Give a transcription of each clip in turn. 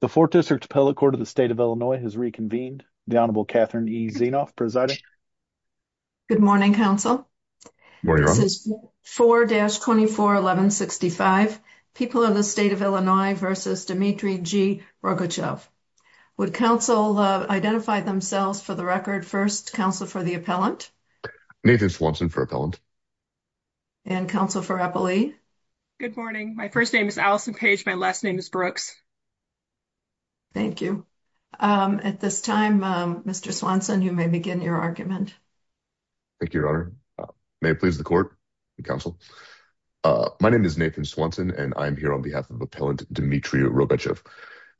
The 4th District Appellate Court of the State of Illinois has reconvened. The Honorable Catherine E. Zinoff presiding. Good morning, counsel. This is 4-241165, People of the State of Illinois v. Dmitry G. Rogatchev. Would counsel identify themselves for the record? First, counsel for the appellant. Nathan Swanson for appellant. And counsel for Appellee. Good morning. My first name is Allison Page. My last name is Brooks. Thank you. At this time, Mr. Swanson, you may begin your argument. Thank you, Your Honor. May it please the court and counsel. My name is Nathan Swanson and I'm here on behalf of Appellant Dmitry Rogatchev.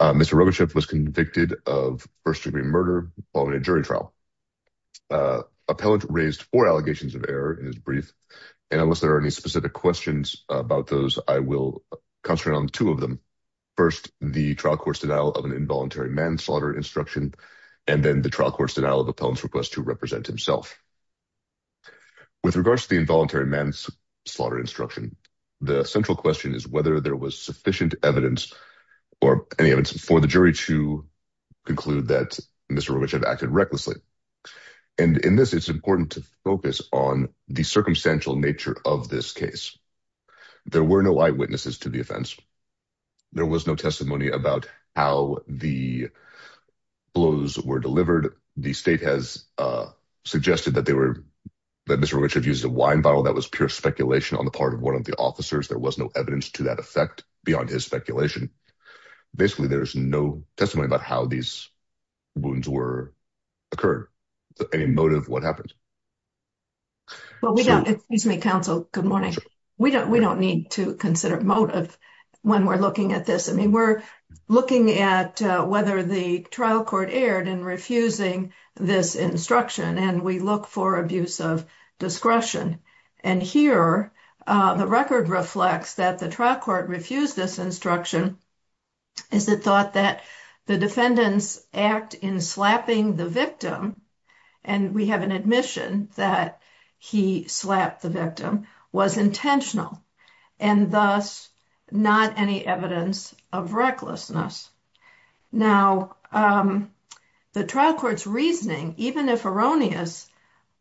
Mr. Rogatchev was convicted of first-degree murder following a jury trial. Appellant raised four allegations of error in his brief. And unless there are any specific questions about those, I will concentrate on two of them. First, the trial court's denial of an involuntary manslaughter instruction, and then the trial court's denial of appellant's request to represent himself. With regards to the involuntary manslaughter instruction, the central question is whether there was sufficient evidence or any evidence for the jury to conclude that Mr. Rogatchev acted recklessly. And in this, it's important to focus on the circumstantial nature of this case. There were no eyewitnesses to the offense. There was no testimony about how the blows were delivered. The state has suggested that Mr. Rogatchev used a wine bottle. That was pure speculation on the part of one of the officers. There was no evidence to that effect beyond his speculation. Basically, there's no testimony about these wounds were occurred. Any motive, what happened? Well, we don't... Excuse me, counsel. Good morning. We don't need to consider motive when we're looking at this. I mean, we're looking at whether the trial court erred in refusing this instruction, and we look for abuse of discretion. And here, the record reflects that trial court refused this instruction as it thought that the defendant's act in slapping the victim, and we have an admission that he slapped the victim, was intentional, and thus, not any evidence of recklessness. Now, the trial court's reasoning, even if erroneous,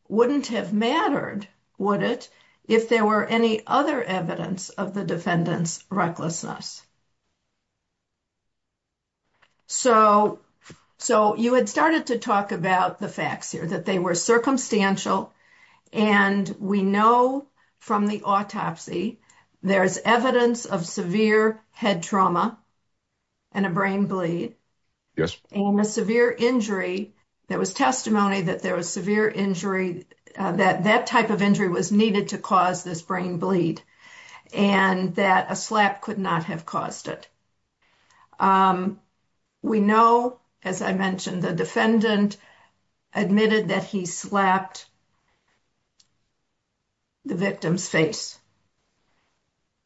wouldn't have mattered, would it, if there were any other evidence of the defendant's recklessness? So, you had started to talk about the facts here, that they were circumstantial, and we know from the autopsy, there's evidence of severe head trauma and a brain bleed. Yes. And a severe injury, there was testimony that there was severe injury, that that type of injury was needed to cause this brain bleed, and that a slap could not have caused it. We know, as I mentioned, the defendant admitted that he slapped the victim's face.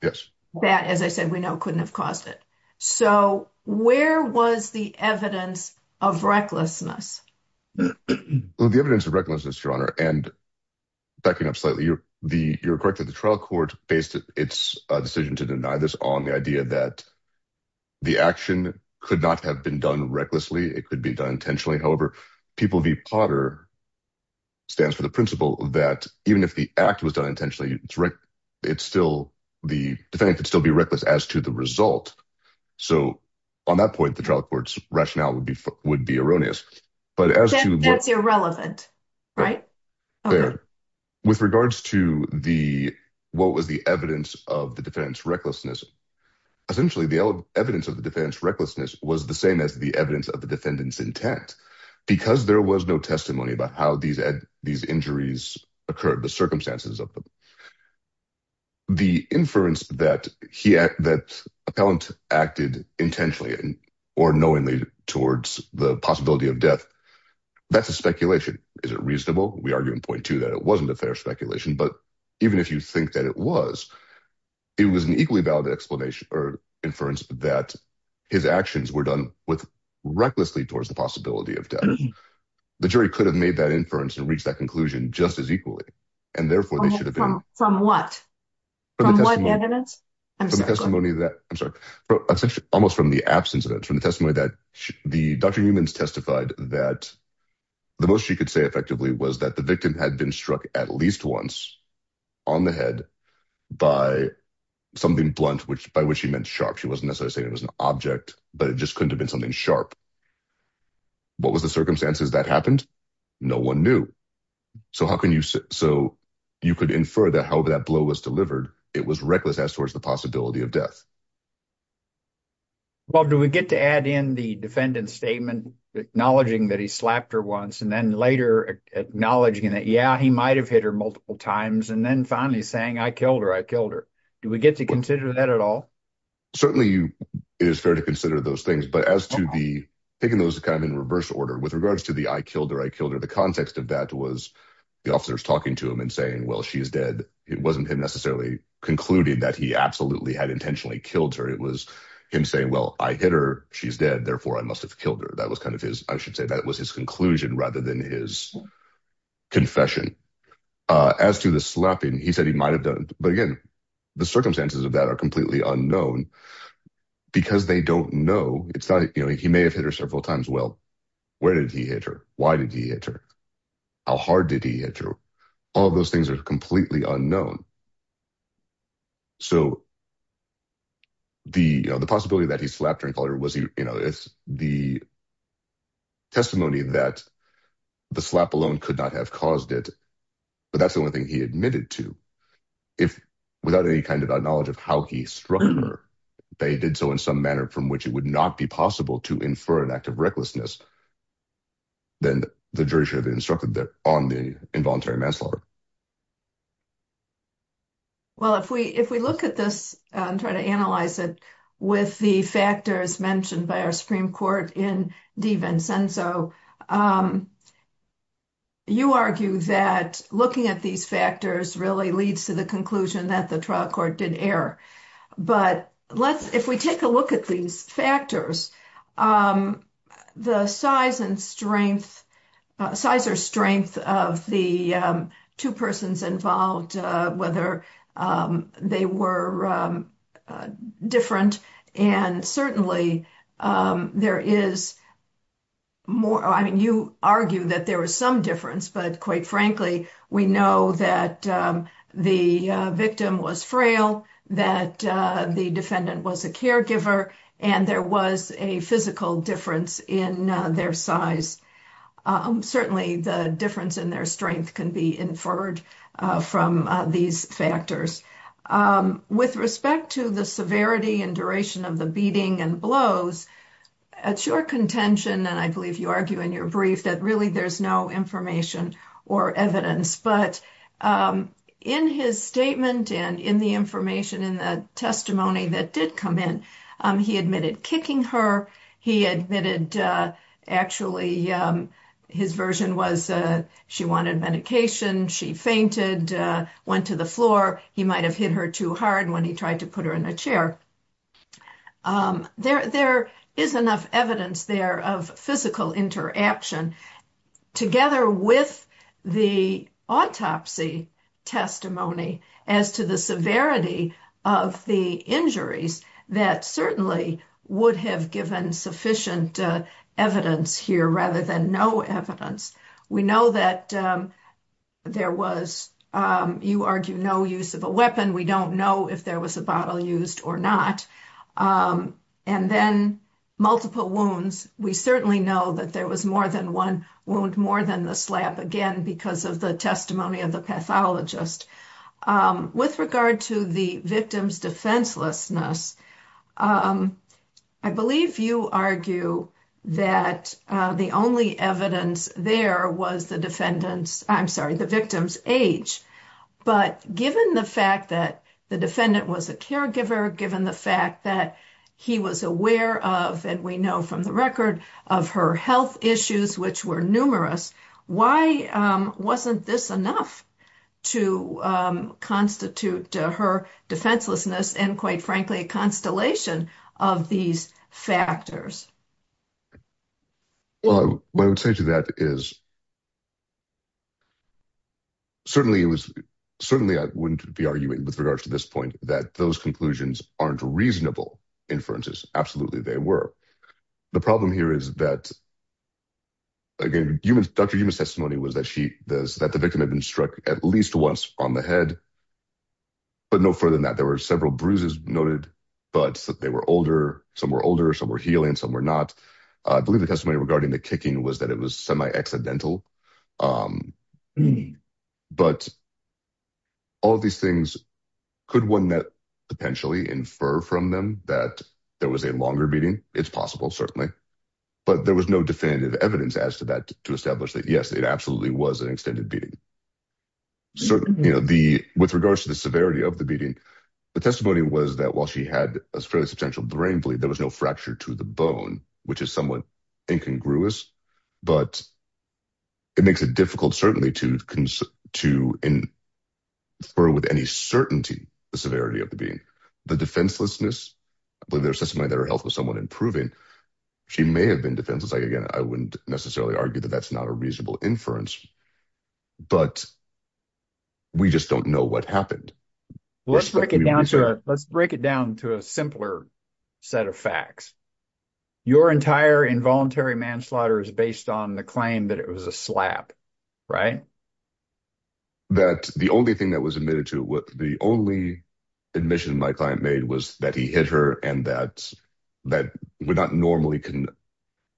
Yes. That, as I said, we know couldn't have caused it. So, where was the evidence of recklessness? Well, the evidence of recklessness, Your Honor, and backing up slightly, you're correct that the trial court based its decision to deny this on the idea that the action could not have been done recklessly, it could be done intentionally. However, People v. Potter stands for the principle that even if the act was done intentionally, the defendant could still be reckless as to the result. So, on that point, the trial court's rationale would be erroneous. That's irrelevant, right? With regards to what was the evidence of the defendant's recklessness, essentially, the evidence of the defendant's recklessness was the same as the evidence of the defendant's intent, because there was no testimony about how these injuries occurred, the circumstances of them. The inference that the appellant acted intentionally or knowingly towards the possibility of death, that's a speculation. Is it reasonable? We argue in point two that it wasn't a fair speculation, but even if you think that it was, it was an equally valid explanation or inference that his actions were done with recklessly towards the possibility of death, the jury could have made that inference and reached that conclusion just as equally, and therefore they should have been. From what? From what evidence? From the testimony that, I'm sorry, essentially, almost from the absence of it, from the testimony that the Dr. Newman's testified that the most she could say effectively was that the victim had been struck at least once on the head by something blunt, by which he meant sharp. She wasn't necessarily saying it was an object, but it just couldn't have been something sharp. What was the circumstances that happened? No one knew. So you could infer that however that blow was delivered, it was reckless as towards the possibility of death. Bob, do we get to add in the defendant's statement acknowledging that he slapped her once and then later acknowledging that, yeah, he might've hit her multiple times, and then finally saying, I killed her, I killed her. Do we get to consider that at all? Certainly it is fair to consider those things, but as to the, taking those kind of in reverse order, with regards to the, I killed her, I killed her, the context of that was the officers talking to him and saying, well, she's dead. It wasn't him necessarily concluded that he absolutely had intentionally killed her. It was him saying, well, I hit her, she's dead. Therefore I must've killed her. That was kind of his, I should say that was his conclusion rather than his confession. As to the slapping, he said he might've done, but again, the circumstances of that are completely unknown because they don't know. It's not, you know, he may have hit her several times. Well, where did he hit her? Why did he hit her? How hard did he hit her? All of those things are completely unknown. So the, you know, the possibility that he slapped her and call her, was he, you know, it's the testimony that the slap alone could not have caused it, but that's the only thing he admitted to. If without any kind of knowledge of how he struck her, they did so in some manner from which it would not be possible to infer an act of recklessness. Then the jury should have instructed that on the involuntary manslaughter. Well, if we, if we look at this and try to analyze it with the factors mentioned by our Supreme Court in Di Vincenzo, you argue that looking at these factors really leads to the conclusion that the trial court did error. But let's, if we take a look at these factors, the size and strength, size or strength of the two persons involved, whether they were different. And certainly there is more, I mean, you argue that there was some difference, but quite frankly, we know that the victim was frail, that the defendant was a caregiver, and there was a physical difference in their size. Certainly the difference in their strength can be inferred from these factors. With respect to the severity and duration of the beating and blows, it's your contention, and I believe you argue in your brief that really there's no information or evidence, but in his statement and in the information, in the testimony that did come in, he admitted kicking her. He admitted, actually, his version was she wanted medication. She fainted, went to the floor. He might've hit her too hard when he tried to put her in a chair. There is enough evidence there of physical interaction together with the autopsy testimony as to the severity of the injuries that certainly would have given sufficient evidence here rather than no evidence. We know that there was, you argue, no use of a weapon. We don't know if there was a bottle used or not. And then multiple wounds. We certainly know that was more than one wound, more than the slap, again, because of the testimony of the pathologist. With regard to the victim's defenselessness, I believe you argue that the only evidence there was the victim's age. But given the fact that the defendant was a caregiver, given the fact that he was aware of, and we know from the record of her health issues, which were numerous, why wasn't this enough to constitute her defenselessness and quite frankly, a constellation of these factors? Well, what I would say to that is certainly I wouldn't be arguing with regards to this point that those conclusions aren't reasonable inferences. Absolutely they were. The problem here is that, again, Dr. Yuma's testimony was that the victim had been struck at least once on the head, but no further than that. There were several bruises noted, but they were older, some were older, some were healing, some were not. I believe the testimony regarding the kicking was that it was semi-accidental. But all of these things, could one potentially infer from them that there was a longer beating? It's possible, certainly. But there was no definitive evidence as to that to establish that, yes, it absolutely was an extended beating. With regards to the severity of the beating, the testimony was that while she had a fairly substantial brain bleed, there was no fracture to the bone, which is somewhat incongruous, but it makes it difficult, certainly, to infer with any certainty the severity of the beating. The defenselessness, the testimony that her health was somewhat improving, she may have been defenseless. Again, I wouldn't necessarily argue that that's not a reasonable inference, but we just don't know what happened. Let's break it down to a simpler set of facts. Your entire involuntary manslaughter is based on the claim that it was a slap, right? That the only thing that was admitted to, the only admission my client made was that he hit her and that would not normally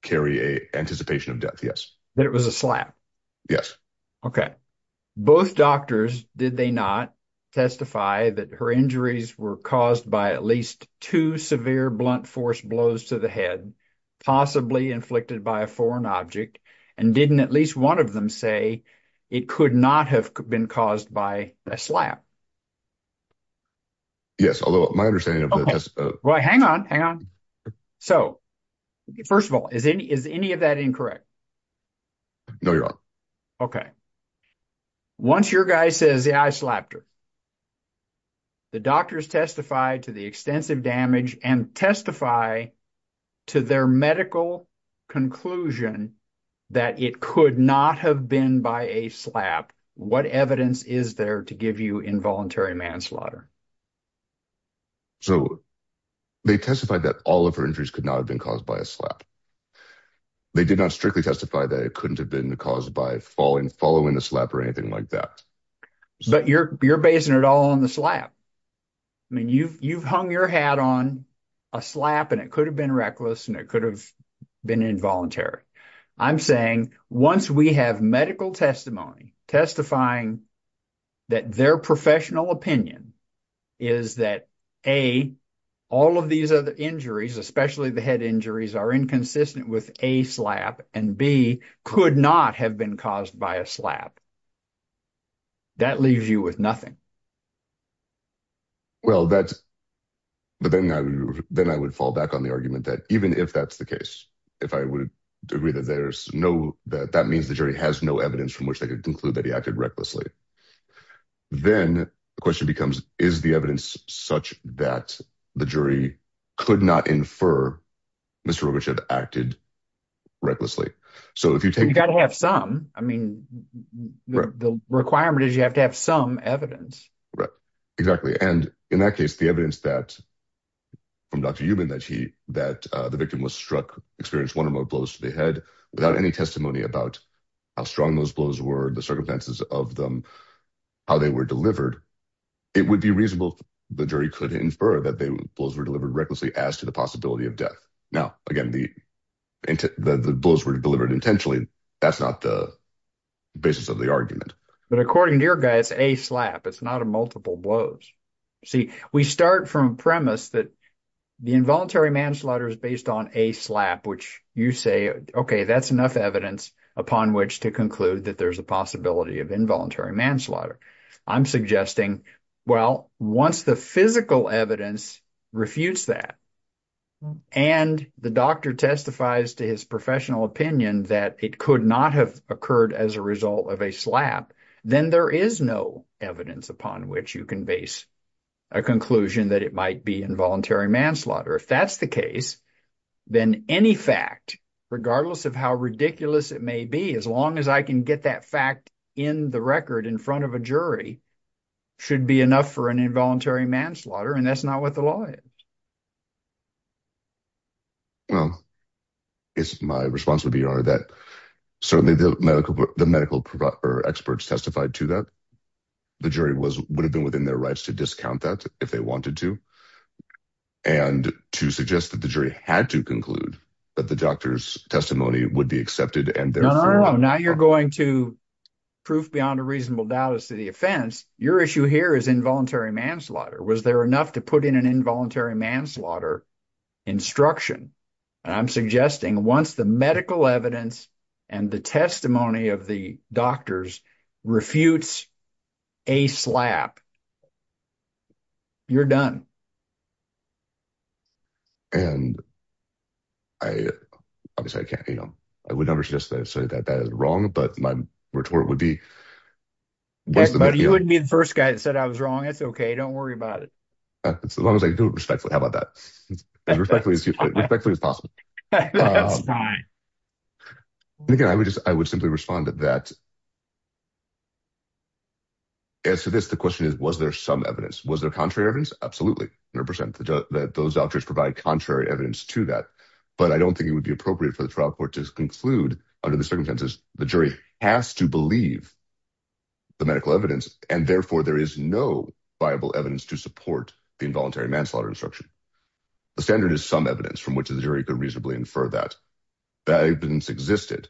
carry an anticipation of death, yes. That it was a slap? Yes. Okay. Both doctors, did they not testify that her injuries were caused by at least two severe blunt force blows to the head, possibly inflicted by a foreign object, and didn't at least one of them say it could not have been caused by a slap? Yes, although my understanding of that is... Well, hang on, hang on. So, first of all, is any of that incorrect? No, Your Honor. Okay. Once your guy says, yeah, I slapped her, the doctors testify to the extensive damage and testify to their medical conclusion that it could not have been by a slap, what evidence is there to give you involuntary manslaughter? So, they testified that all of her injuries could not have been caused by a slap. They did not strictly testify that it couldn't have been caused by following the slap or anything like that. But you're basing it all on the slap. I mean, you've hung your hat on a slap and it could have been reckless and it could have been involuntary. I'm saying, once we have medical testimony testifying that their professional opinion is that, A, all of these other injuries, especially the head injuries, are inconsistent with A slap, and B, could not have been caused by a slap. That leaves you with nothing. Well, that's... But then I would fall back on the argument that even if that's the case, if I would agree that that means the jury has no evidence from which they could conclude that he acted recklessly, then the question becomes, is the evidence such that the jury could not infer Mr. Roberts had acted recklessly? So, if you take... You've got to have some. I mean, the requirement is you have to have some evidence. Right. Exactly. And in that case, the evidence from Dr. Euben that the victim was struck experienced one or more blows to the head without any testimony about how strong those blows were, the circumstances of them, how they were delivered, it would be reasonable if the jury could infer that the blows were delivered recklessly as to the possibility of death. Now, again, the blows were delivered intentionally. That's not the basis of the argument. But according to your guy, it's A slap. It's not a multiple blows. See, we start from a premise that the involuntary manslaughter is based on A slap, which you say, okay, that's enough evidence upon which to conclude that there's a possibility of involuntary manslaughter. I'm suggesting, well, once the physical evidence refutes that and the doctor testifies to his professional opinion that it could not have occurred as a result of A slap, then there is no evidence upon which you can base a conclusion that it might be involuntary manslaughter. If that's the case, then any fact, regardless of how ridiculous it may be, as long as I can get that fact in the record in front of a jury, should be enough for an involuntary manslaughter. And that's not what the law is. Well, it's my response would be that certainly the medical experts testified to that. The jury would have been within their rights to discount that if they wanted to. And to suggest that the jury had to conclude that the doctor's testimony would be accepted. And now you're going to prove beyond a reasonable doubt as to the offense. Your issue here is involuntary manslaughter. Was there enough to put in an involuntary manslaughter instruction? And I'm suggesting once the medical evidence and the testimony of the doctors refutes A slap, you're done. And I obviously I can't, you know, I would never suggest that I say that that is wrong, but my retort would be. But you wouldn't be the first guy that said I was wrong. It's okay. Don't worry about it. As long as I do it respectfully. How about that? As respectfully as possible. Again, I would just I would simply respond to that. As to this, the question is, was there some evidence? Was there contrary evidence? Absolutely. 100% that those doctors provide contrary evidence to that. But I don't think it would be appropriate for the trial court to conclude under the circumstances, the jury has to believe the medical evidence and therefore there is no viable evidence to support the involuntary manslaughter instruction. The standard is some evidence from which the jury could reasonably infer that that evidence existed.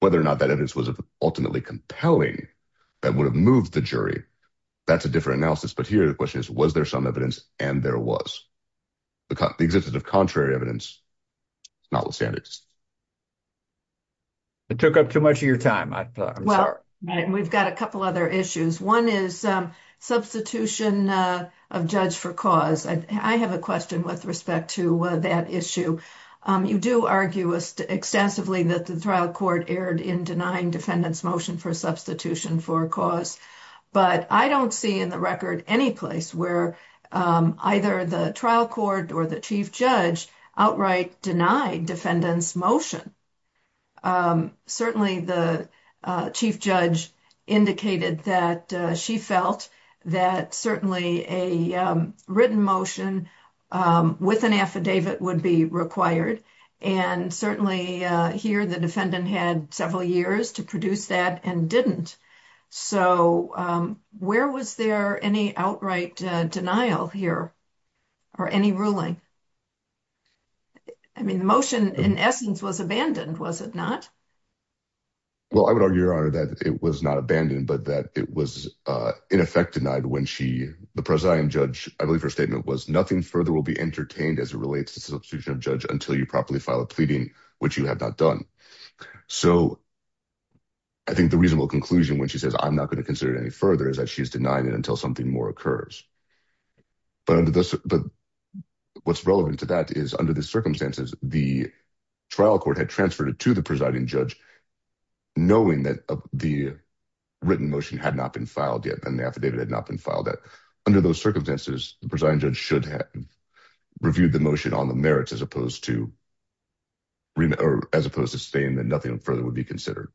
Whether or not that evidence was ultimately compelling that would have moved the jury. That's a different analysis. But here the question is, was there some evidence? And there was the existence of contrary evidence, not the standards. It took up too much of your time. I'm sorry. We've got a couple other issues. One is substitution of judge for cause. I have a question with respect to that issue. You do argue extensively that the trial court erred in denying defendant's motion for substitution for cause. But I don't see in the record any place where either the trial court or the chief judge outright denied defendant's motion. Certainly the chief judge indicated that she felt that certainly a written motion with an affidavit would be required. And certainly here the defendant had several years to produce that and didn't. So where was there any outright denial here or any ruling? I mean, the motion in essence was abandoned, was it not? Well, I would argue your honor that it was not abandoned, but that it was in effect denied when she, the presiding judge, I believe her statement was nothing further will be entertained as it relates to substitution of judge until you properly file a pleading, which you have not done. So I think the reasonable conclusion when she says, I'm not going to consider it any further is that she's denying it until something more occurs. But what's relevant to that is the circumstances the trial court had transferred it to the presiding judge, knowing that the written motion had not been filed yet and the affidavit had not been filed that under those circumstances, the presiding judge should have reviewed the motion on the merits as opposed to as opposed to saying that nothing further would be considered.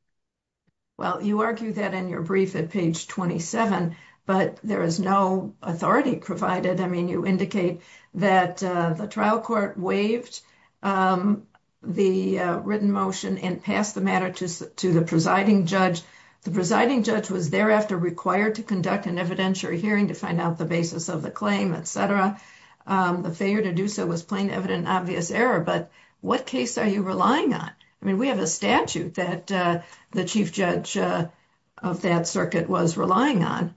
Well, you argue that in your brief at page 27, but there is no authority provided. I mean, you indicate that the trial court waived the written motion and passed the matter to the presiding judge. The presiding judge was thereafter required to conduct an evidentiary hearing to find out the basis of the claim, et cetera. The failure to do so was plain, evident, obvious error. But what case are you relying on? I mean, we have a statute that the chief judge of that circuit was relying on.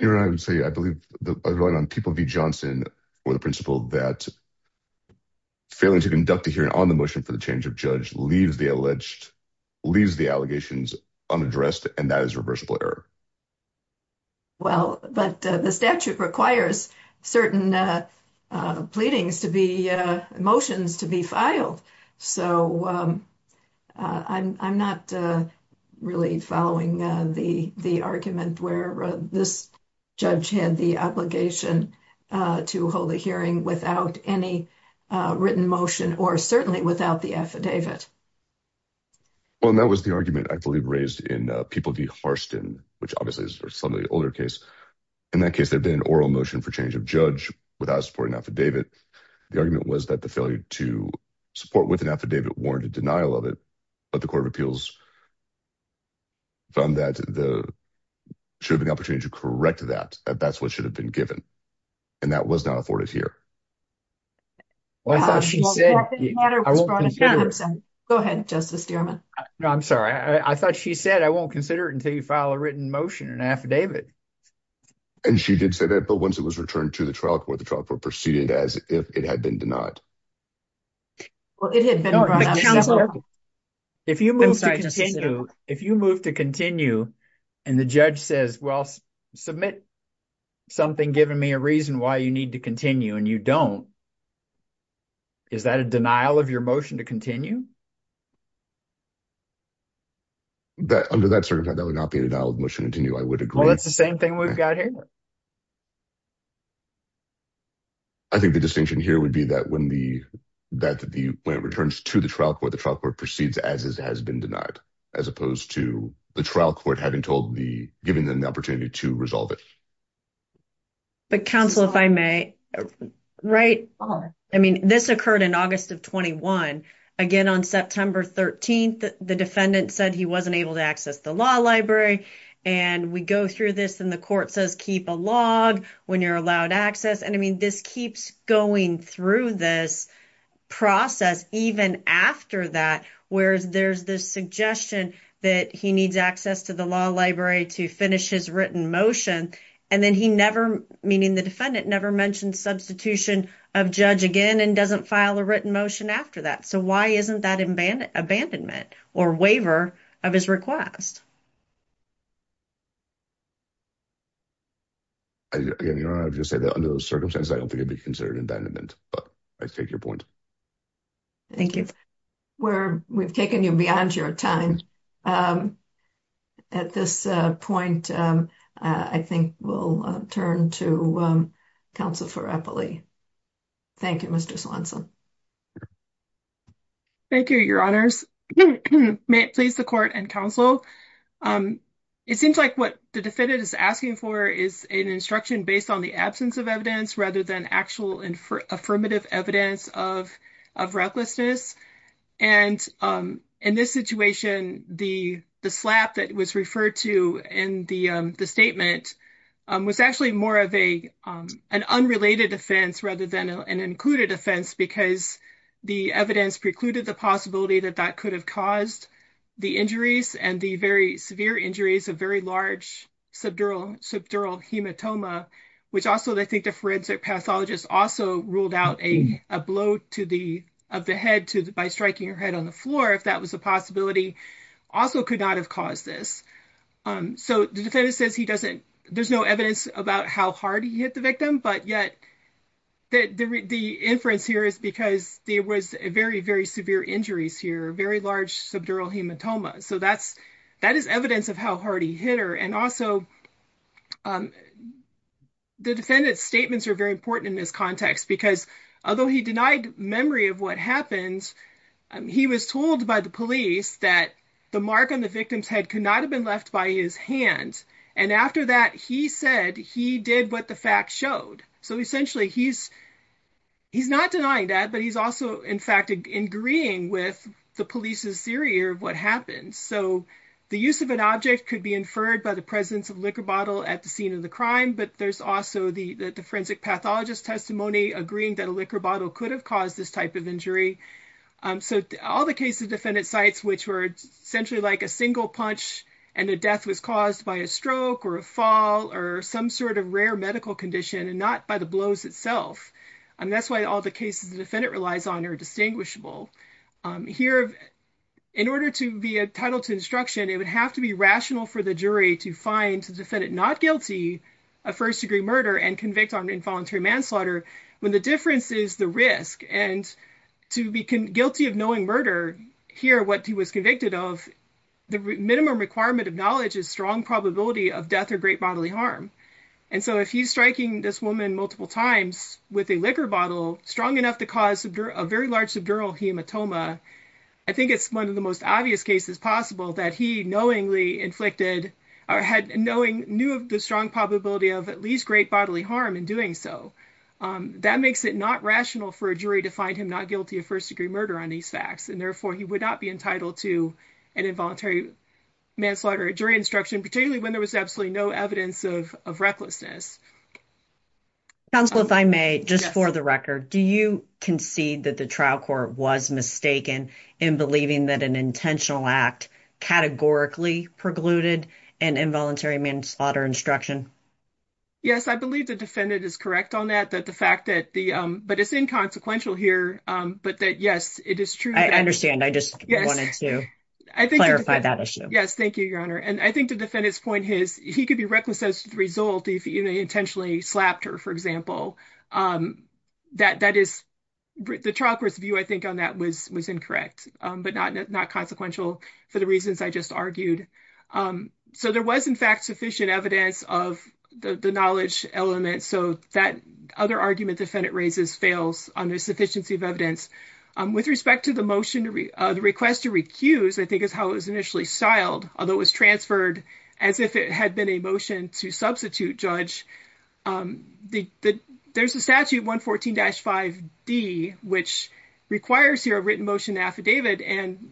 You know, I would say, I believe I rely on people V Johnson or the principle that failing to conduct a hearing on the motion for the change of judge leaves the alleged leaves the allegations unaddressed. And that is reversible error. Well, but the statute requires certain pleadings to be motions to be filed. So I'm not really following the argument where this judge had the obligation to hold a hearing without any written motion or certainly without the affidavit. Well, and that was the argument I believe raised in people V Harston, which obviously is some of the older case. In that case, there'd been an oral motion for change of judge without supporting affidavit. The argument was that the failure to support with an affidavit warranted denial of it, but the court of appeals found that there should be an opportunity to correct that, that that's what should have been given. And that was not afforded here. Go ahead, justice. No, I'm sorry. I thought she said, I won't consider it until you file a written motion and affidavit. And she did say that, but once it was returned to the trial court, the trial court proceeded as if it had been denied. Well, it had been brought up several times. If you move to continue, if you move to continue and the judge says, well, submit something, giving me a reason why you need to continue and you don't, is that a denial of your motion to continue? Under that circumstance, that would not be a denial of motion to continue, I would agree. Well, that's the same thing we've got here. I think the distinction here would be that when the, that the, when it returns to the trial court, the trial court proceeds as it has been denied, as opposed to the trial court, having told the, giving them the opportunity to resolve it. But counsel, if I may write, I mean, this occurred in August of 21, again, on September 13th, the defendant said he wasn't able to access the law library. And we go through this and the court says, keep a log when you're allowed access. And I mean, this keeps going through this process, even after that, whereas there's this suggestion that he needs access to the law library to finish his written motion. And then he never, meaning the defendant never mentioned substitution of judge again, and doesn't file a written motion after that. So why isn't that abandonment or waiver of his request? Again, you know, I've just said that under those circumstances, I don't think it'd be considered abandonment, but I take your point. Thank you. We're, we've taken you beyond your time. At this point, I think we'll turn to counsel for Eppley. Thank you, Mr. Swanson. Thank you, your honors. May it please the court and counsel. It seems like what the defendant is asking for is an instruction based on the absence of evidence rather than actual and affirmative evidence of, of recklessness. And in this situation, the slap that was referred to in the statement was actually more of a, an unrelated offense rather than an included offense, because the evidence precluded the possibility that that could have caused the injuries and the very severe injuries of very large subdural, subdural hematoma, which also they think the forensic pathologist also ruled out a blow to the, of the head to the, by striking her head on the floor, if that was a possibility, also could not have caused this. So the defendant says he doesn't, there's no evidence about how hard he hit the victim, but yet the, the, the inference here is because there was a very, very severe injuries here, very large subdural hematoma. So that's, that is evidence of how hard he hit her. And also the defendant's statements are very important in this context, because although he denied memory of what happened, he was told by the police that the mark on the victim's head could not have been left by his hand. And after that, he said he did what the facts showed. So essentially he's, he's not denying that, but he's also, in fact, agreeing with the police's theory of what happened. So the use of an object could be inferred by the presence of liquor bottle at the scene of the crime, but there's also the, the forensic pathologist testimony agreeing that a liquor bottle could have caused this type of injury. So all the cases defendant cites, which were essentially like a single punch and the death was caused by a stroke or a fall or some sort of rare medical condition and not by the blows itself. And that's why all the cases the defendant relies on are distinguishable. Here, in order to be entitled to instruction, it would have to be rational for the jury to find the defendant not guilty of first degree murder and convict on involuntary manslaughter when the difference is the risk. And to be guilty of knowing murder here, what he was convicted of, the minimum requirement of knowledge is strong probability of death or great bodily harm. And so if he's striking this woman multiple times with a liquor bottle strong enough to cause a very large subdural hematoma, I think it's one of the most obvious cases possible that he knowingly inflicted or had knowing, knew of the strong probability of at least great bodily harm in doing so. That makes it not rational for a jury to find him not guilty of first degree murder on these facts, and therefore he would not be entitled to an involuntary manslaughter during instruction, particularly when there was absolutely no evidence of recklessness. Counsel, if I may, just for the record, do you concede that the trial court was mistaken in believing that an intentional act categorically precluded an involuntary manslaughter instruction? Yes, I believe the defendant is correct on that, that the fact that the but it's inconsequential here, but that, yes, it is true. I understand. I just wanted to clarify that issue. Yes, thank you, Your Honor. And I think the defendant's point is he could be reckless as a result if he intentionally slapped her, for example, that that is the trial court's view. I think on that was was incorrect, but not not consequential for the reasons I just argued. So there was, in fact, sufficient evidence of the knowledge element. So that other argument defendant raises fails on the sufficiency of evidence. With respect to the motion, the request to recuse, I think, is how it was initially styled, although it was transferred as if it had been a motion to substitute judge. There's a statute, 114-5D, which requires here a written motion affidavit. And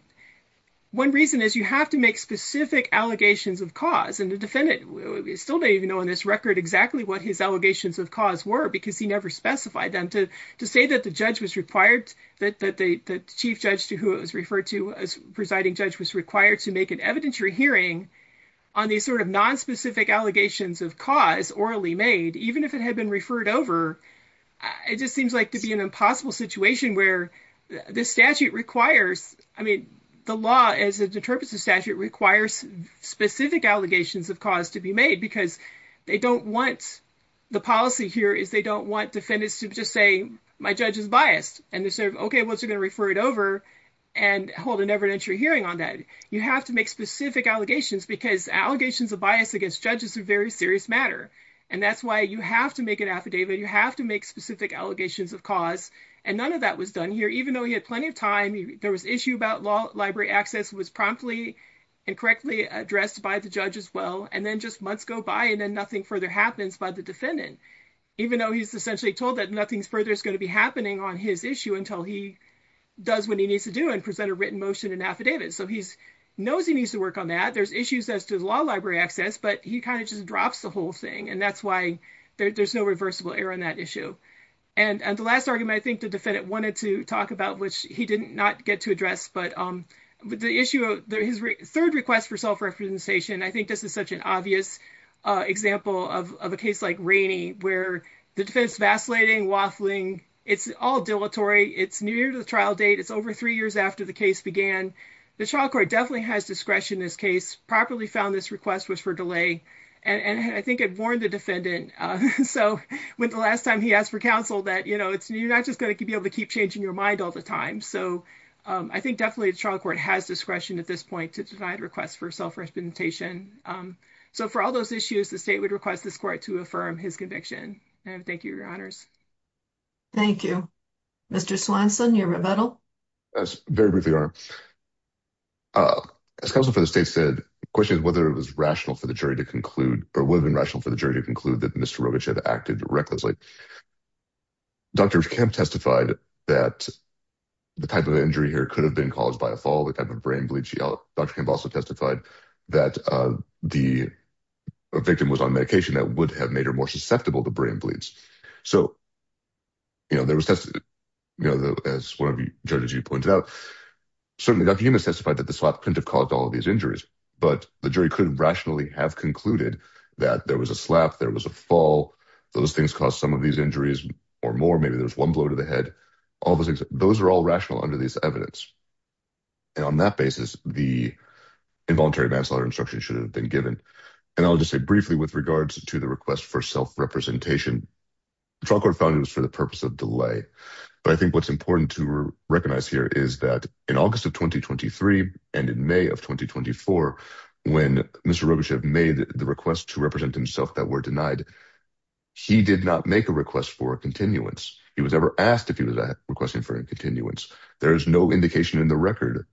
one reason is you have to make specific allegations of cause. We still don't even know in this record exactly what his allegations of cause were because he never specified them. To say that the judge was required, that the chief judge to who it was referred to as presiding judge, was required to make an evidentiary hearing on these sort of nonspecific allegations of cause orally made, even if it had been referred over, it just seems like to be an impossible situation where this statute requires, I mean, the law as it interprets the statute requires specific allegations of cause to be made because they don't want, the policy here is they don't want defendants to just say, my judge is biased. And they say, okay, well, it's going to refer it over and hold an evidentiary hearing on that. You have to make specific allegations because allegations of bias against judges are very serious matter. And that's why you have to make an affidavit. You have to make specific allegations of cause. And none of that was done here, even though he had plenty of time. There was issue about law library access was promptly and correctly addressed by the judge as well. And then just months go by and then nothing further happens by the defendant, even though he's essentially told that nothing further is going to be happening on his issue until he does what he needs to do and present a written motion and affidavit. So he knows he needs to work on that. There's issues as to the law library access, but he kind of just drops the whole thing. And that's why there's no reversible error in that issue. And the last argument I think the defendant wanted to talk about, which he did not get to address, but the issue of his third request for self-representation, I think this is such an obvious example of a case like Rainey, where the defense vacillating, waffling, it's all dilatory. It's near the trial date. It's over three years after the case began. The trial court definitely has discretion in this case, properly found this request was for delay. And I think it warned the defendant. So when the last time he asked for counsel that, you know, it's, you're not just going to be able to keep changing your mind all the time. So I think definitely the trial court has discretion at this point to divide requests for self-representation. So for all those issues, the state would request this court to affirm his conviction. And thank you, your honors. Thank you, Mr. Swanson, your rebuttal. That's very briefly. As counsel for the state said, the question is whether it was rational for the jury to conclude, or whether it was rational for the jury to conclude that Mr. Rogich had acted recklessly. Dr. Kemp testified that the type of injury here could have been caused by a fall, the type of brain bleed she had. Dr. Kemp also testified that the victim was on medication that would have made her more susceptible to brain bleeds. So, you know, there was, you know, as one of the judges, you pointed out, certainly Dr. Hume has testified that the swap couldn't have caused all of these injuries, but the jury could rationally have concluded that there was a slap, there was a fall. Those things cause some of these injuries or more, maybe there's one blow to the head. All of those things, those are all rational under this evidence. And on that basis, the involuntary manslaughter instruction should have been given. And I'll just say briefly with regards to the request for self-representation, the trial court found it was for the purpose of delay. But I think what's important to recognize here is that in August of 2023, and in May of 2024, when Mr. Rogachev made the request to represent himself that were denied, he did not make a request for a continuance. He was never asked if he was requesting for a continuance. There is no indication in the record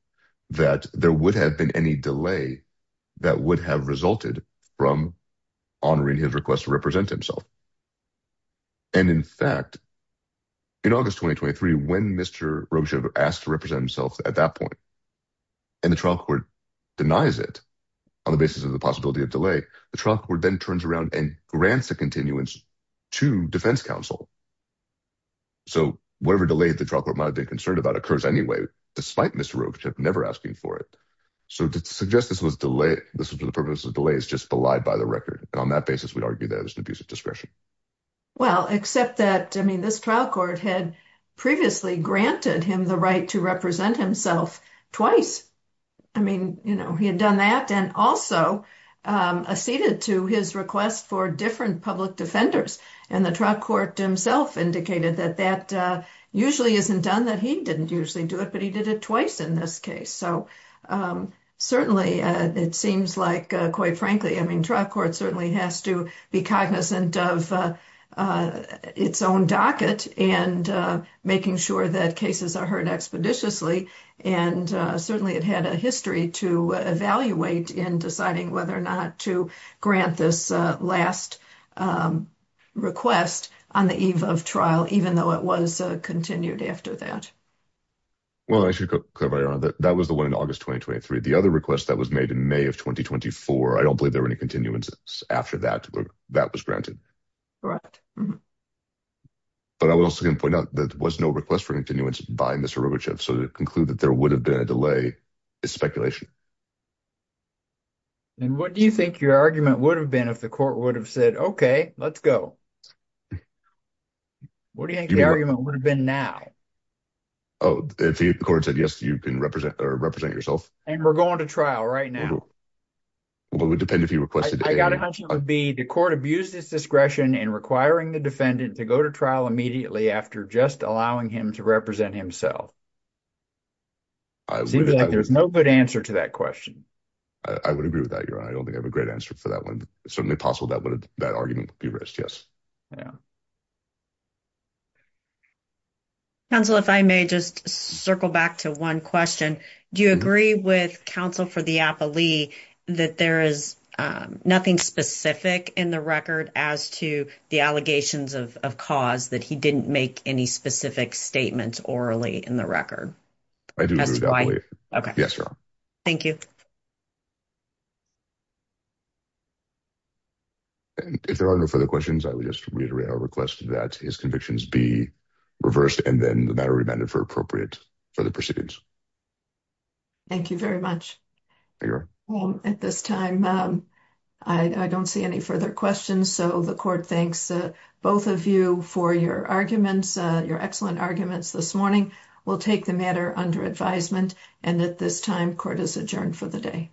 that there would have been any delay that would have resulted from honoring his request to represent himself. And in fact, in August 2023, when Mr. Rogachev asked to represent himself at that point, and the trial court denies it on the basis of the possibility of delay, the trial court then turns around and grants a continuance to defense counsel. So whatever delay the trial court might have been concerned about occurs anyway, despite Mr. Rogachev never asking for it. So to suggest this was for the purpose of delay is just belied by the record. And on that basis, we'd argue that it was an abuse of discretion. Well, except that, I mean, this trial court had previously granted him the right to represent himself twice. I mean, you know, he had done that and also acceded to his request for different public defenders. And the trial court himself indicated that that usually isn't done, that he didn't usually do it, but he did it twice in this case. So certainly it seems like, quite frankly, I mean, trial court certainly has to be cognizant of its own docket and making sure that cases are heard expeditiously. And certainly it had a history to evaluate in deciding whether or not to grant this last request on the eve of trial, even though it was continued after that. Well, I should clarify, Your Honor, that was the one in August 2023. The other request that was made in May of 2024, I don't believe there were any continuances after that, that was granted. But I was also going to point out that there was no request for continuance by Mr. Robochev, so to conclude that there would have been a delay is speculation. And what do you think your argument would have been if the court would have said, okay, let's go? What do you think the argument would have been now? Oh, if the court said, yes, you can represent yourself. And we're going to trial right now. Well, it would depend if you requested it. I got a hunch it would be the court abused its discretion in requiring the defendant to go to trial immediately after just allowing him to represent himself. There's no good answer to that question. I would agree with that, Your Honor. I don't think I have a great answer for that one. Certainly possible that argument would be raised, yes. Counsel, if I may just circle back to one question. Do you agree with counsel for the appellee that there is nothing specific in the record as to the allegations of cause that he didn't make any specific statements orally in the record? I do. Thank you. If there are no further questions, I would just reiterate our request that his convictions be reversed and then the matter remanded for appropriate further proceedings. Thank you very much. At this time, I don't see any further questions. So the court thanks both of you for your arguments, your excellent arguments this morning. We'll take the matter under advisement. And at this time, court is adjourned for the day.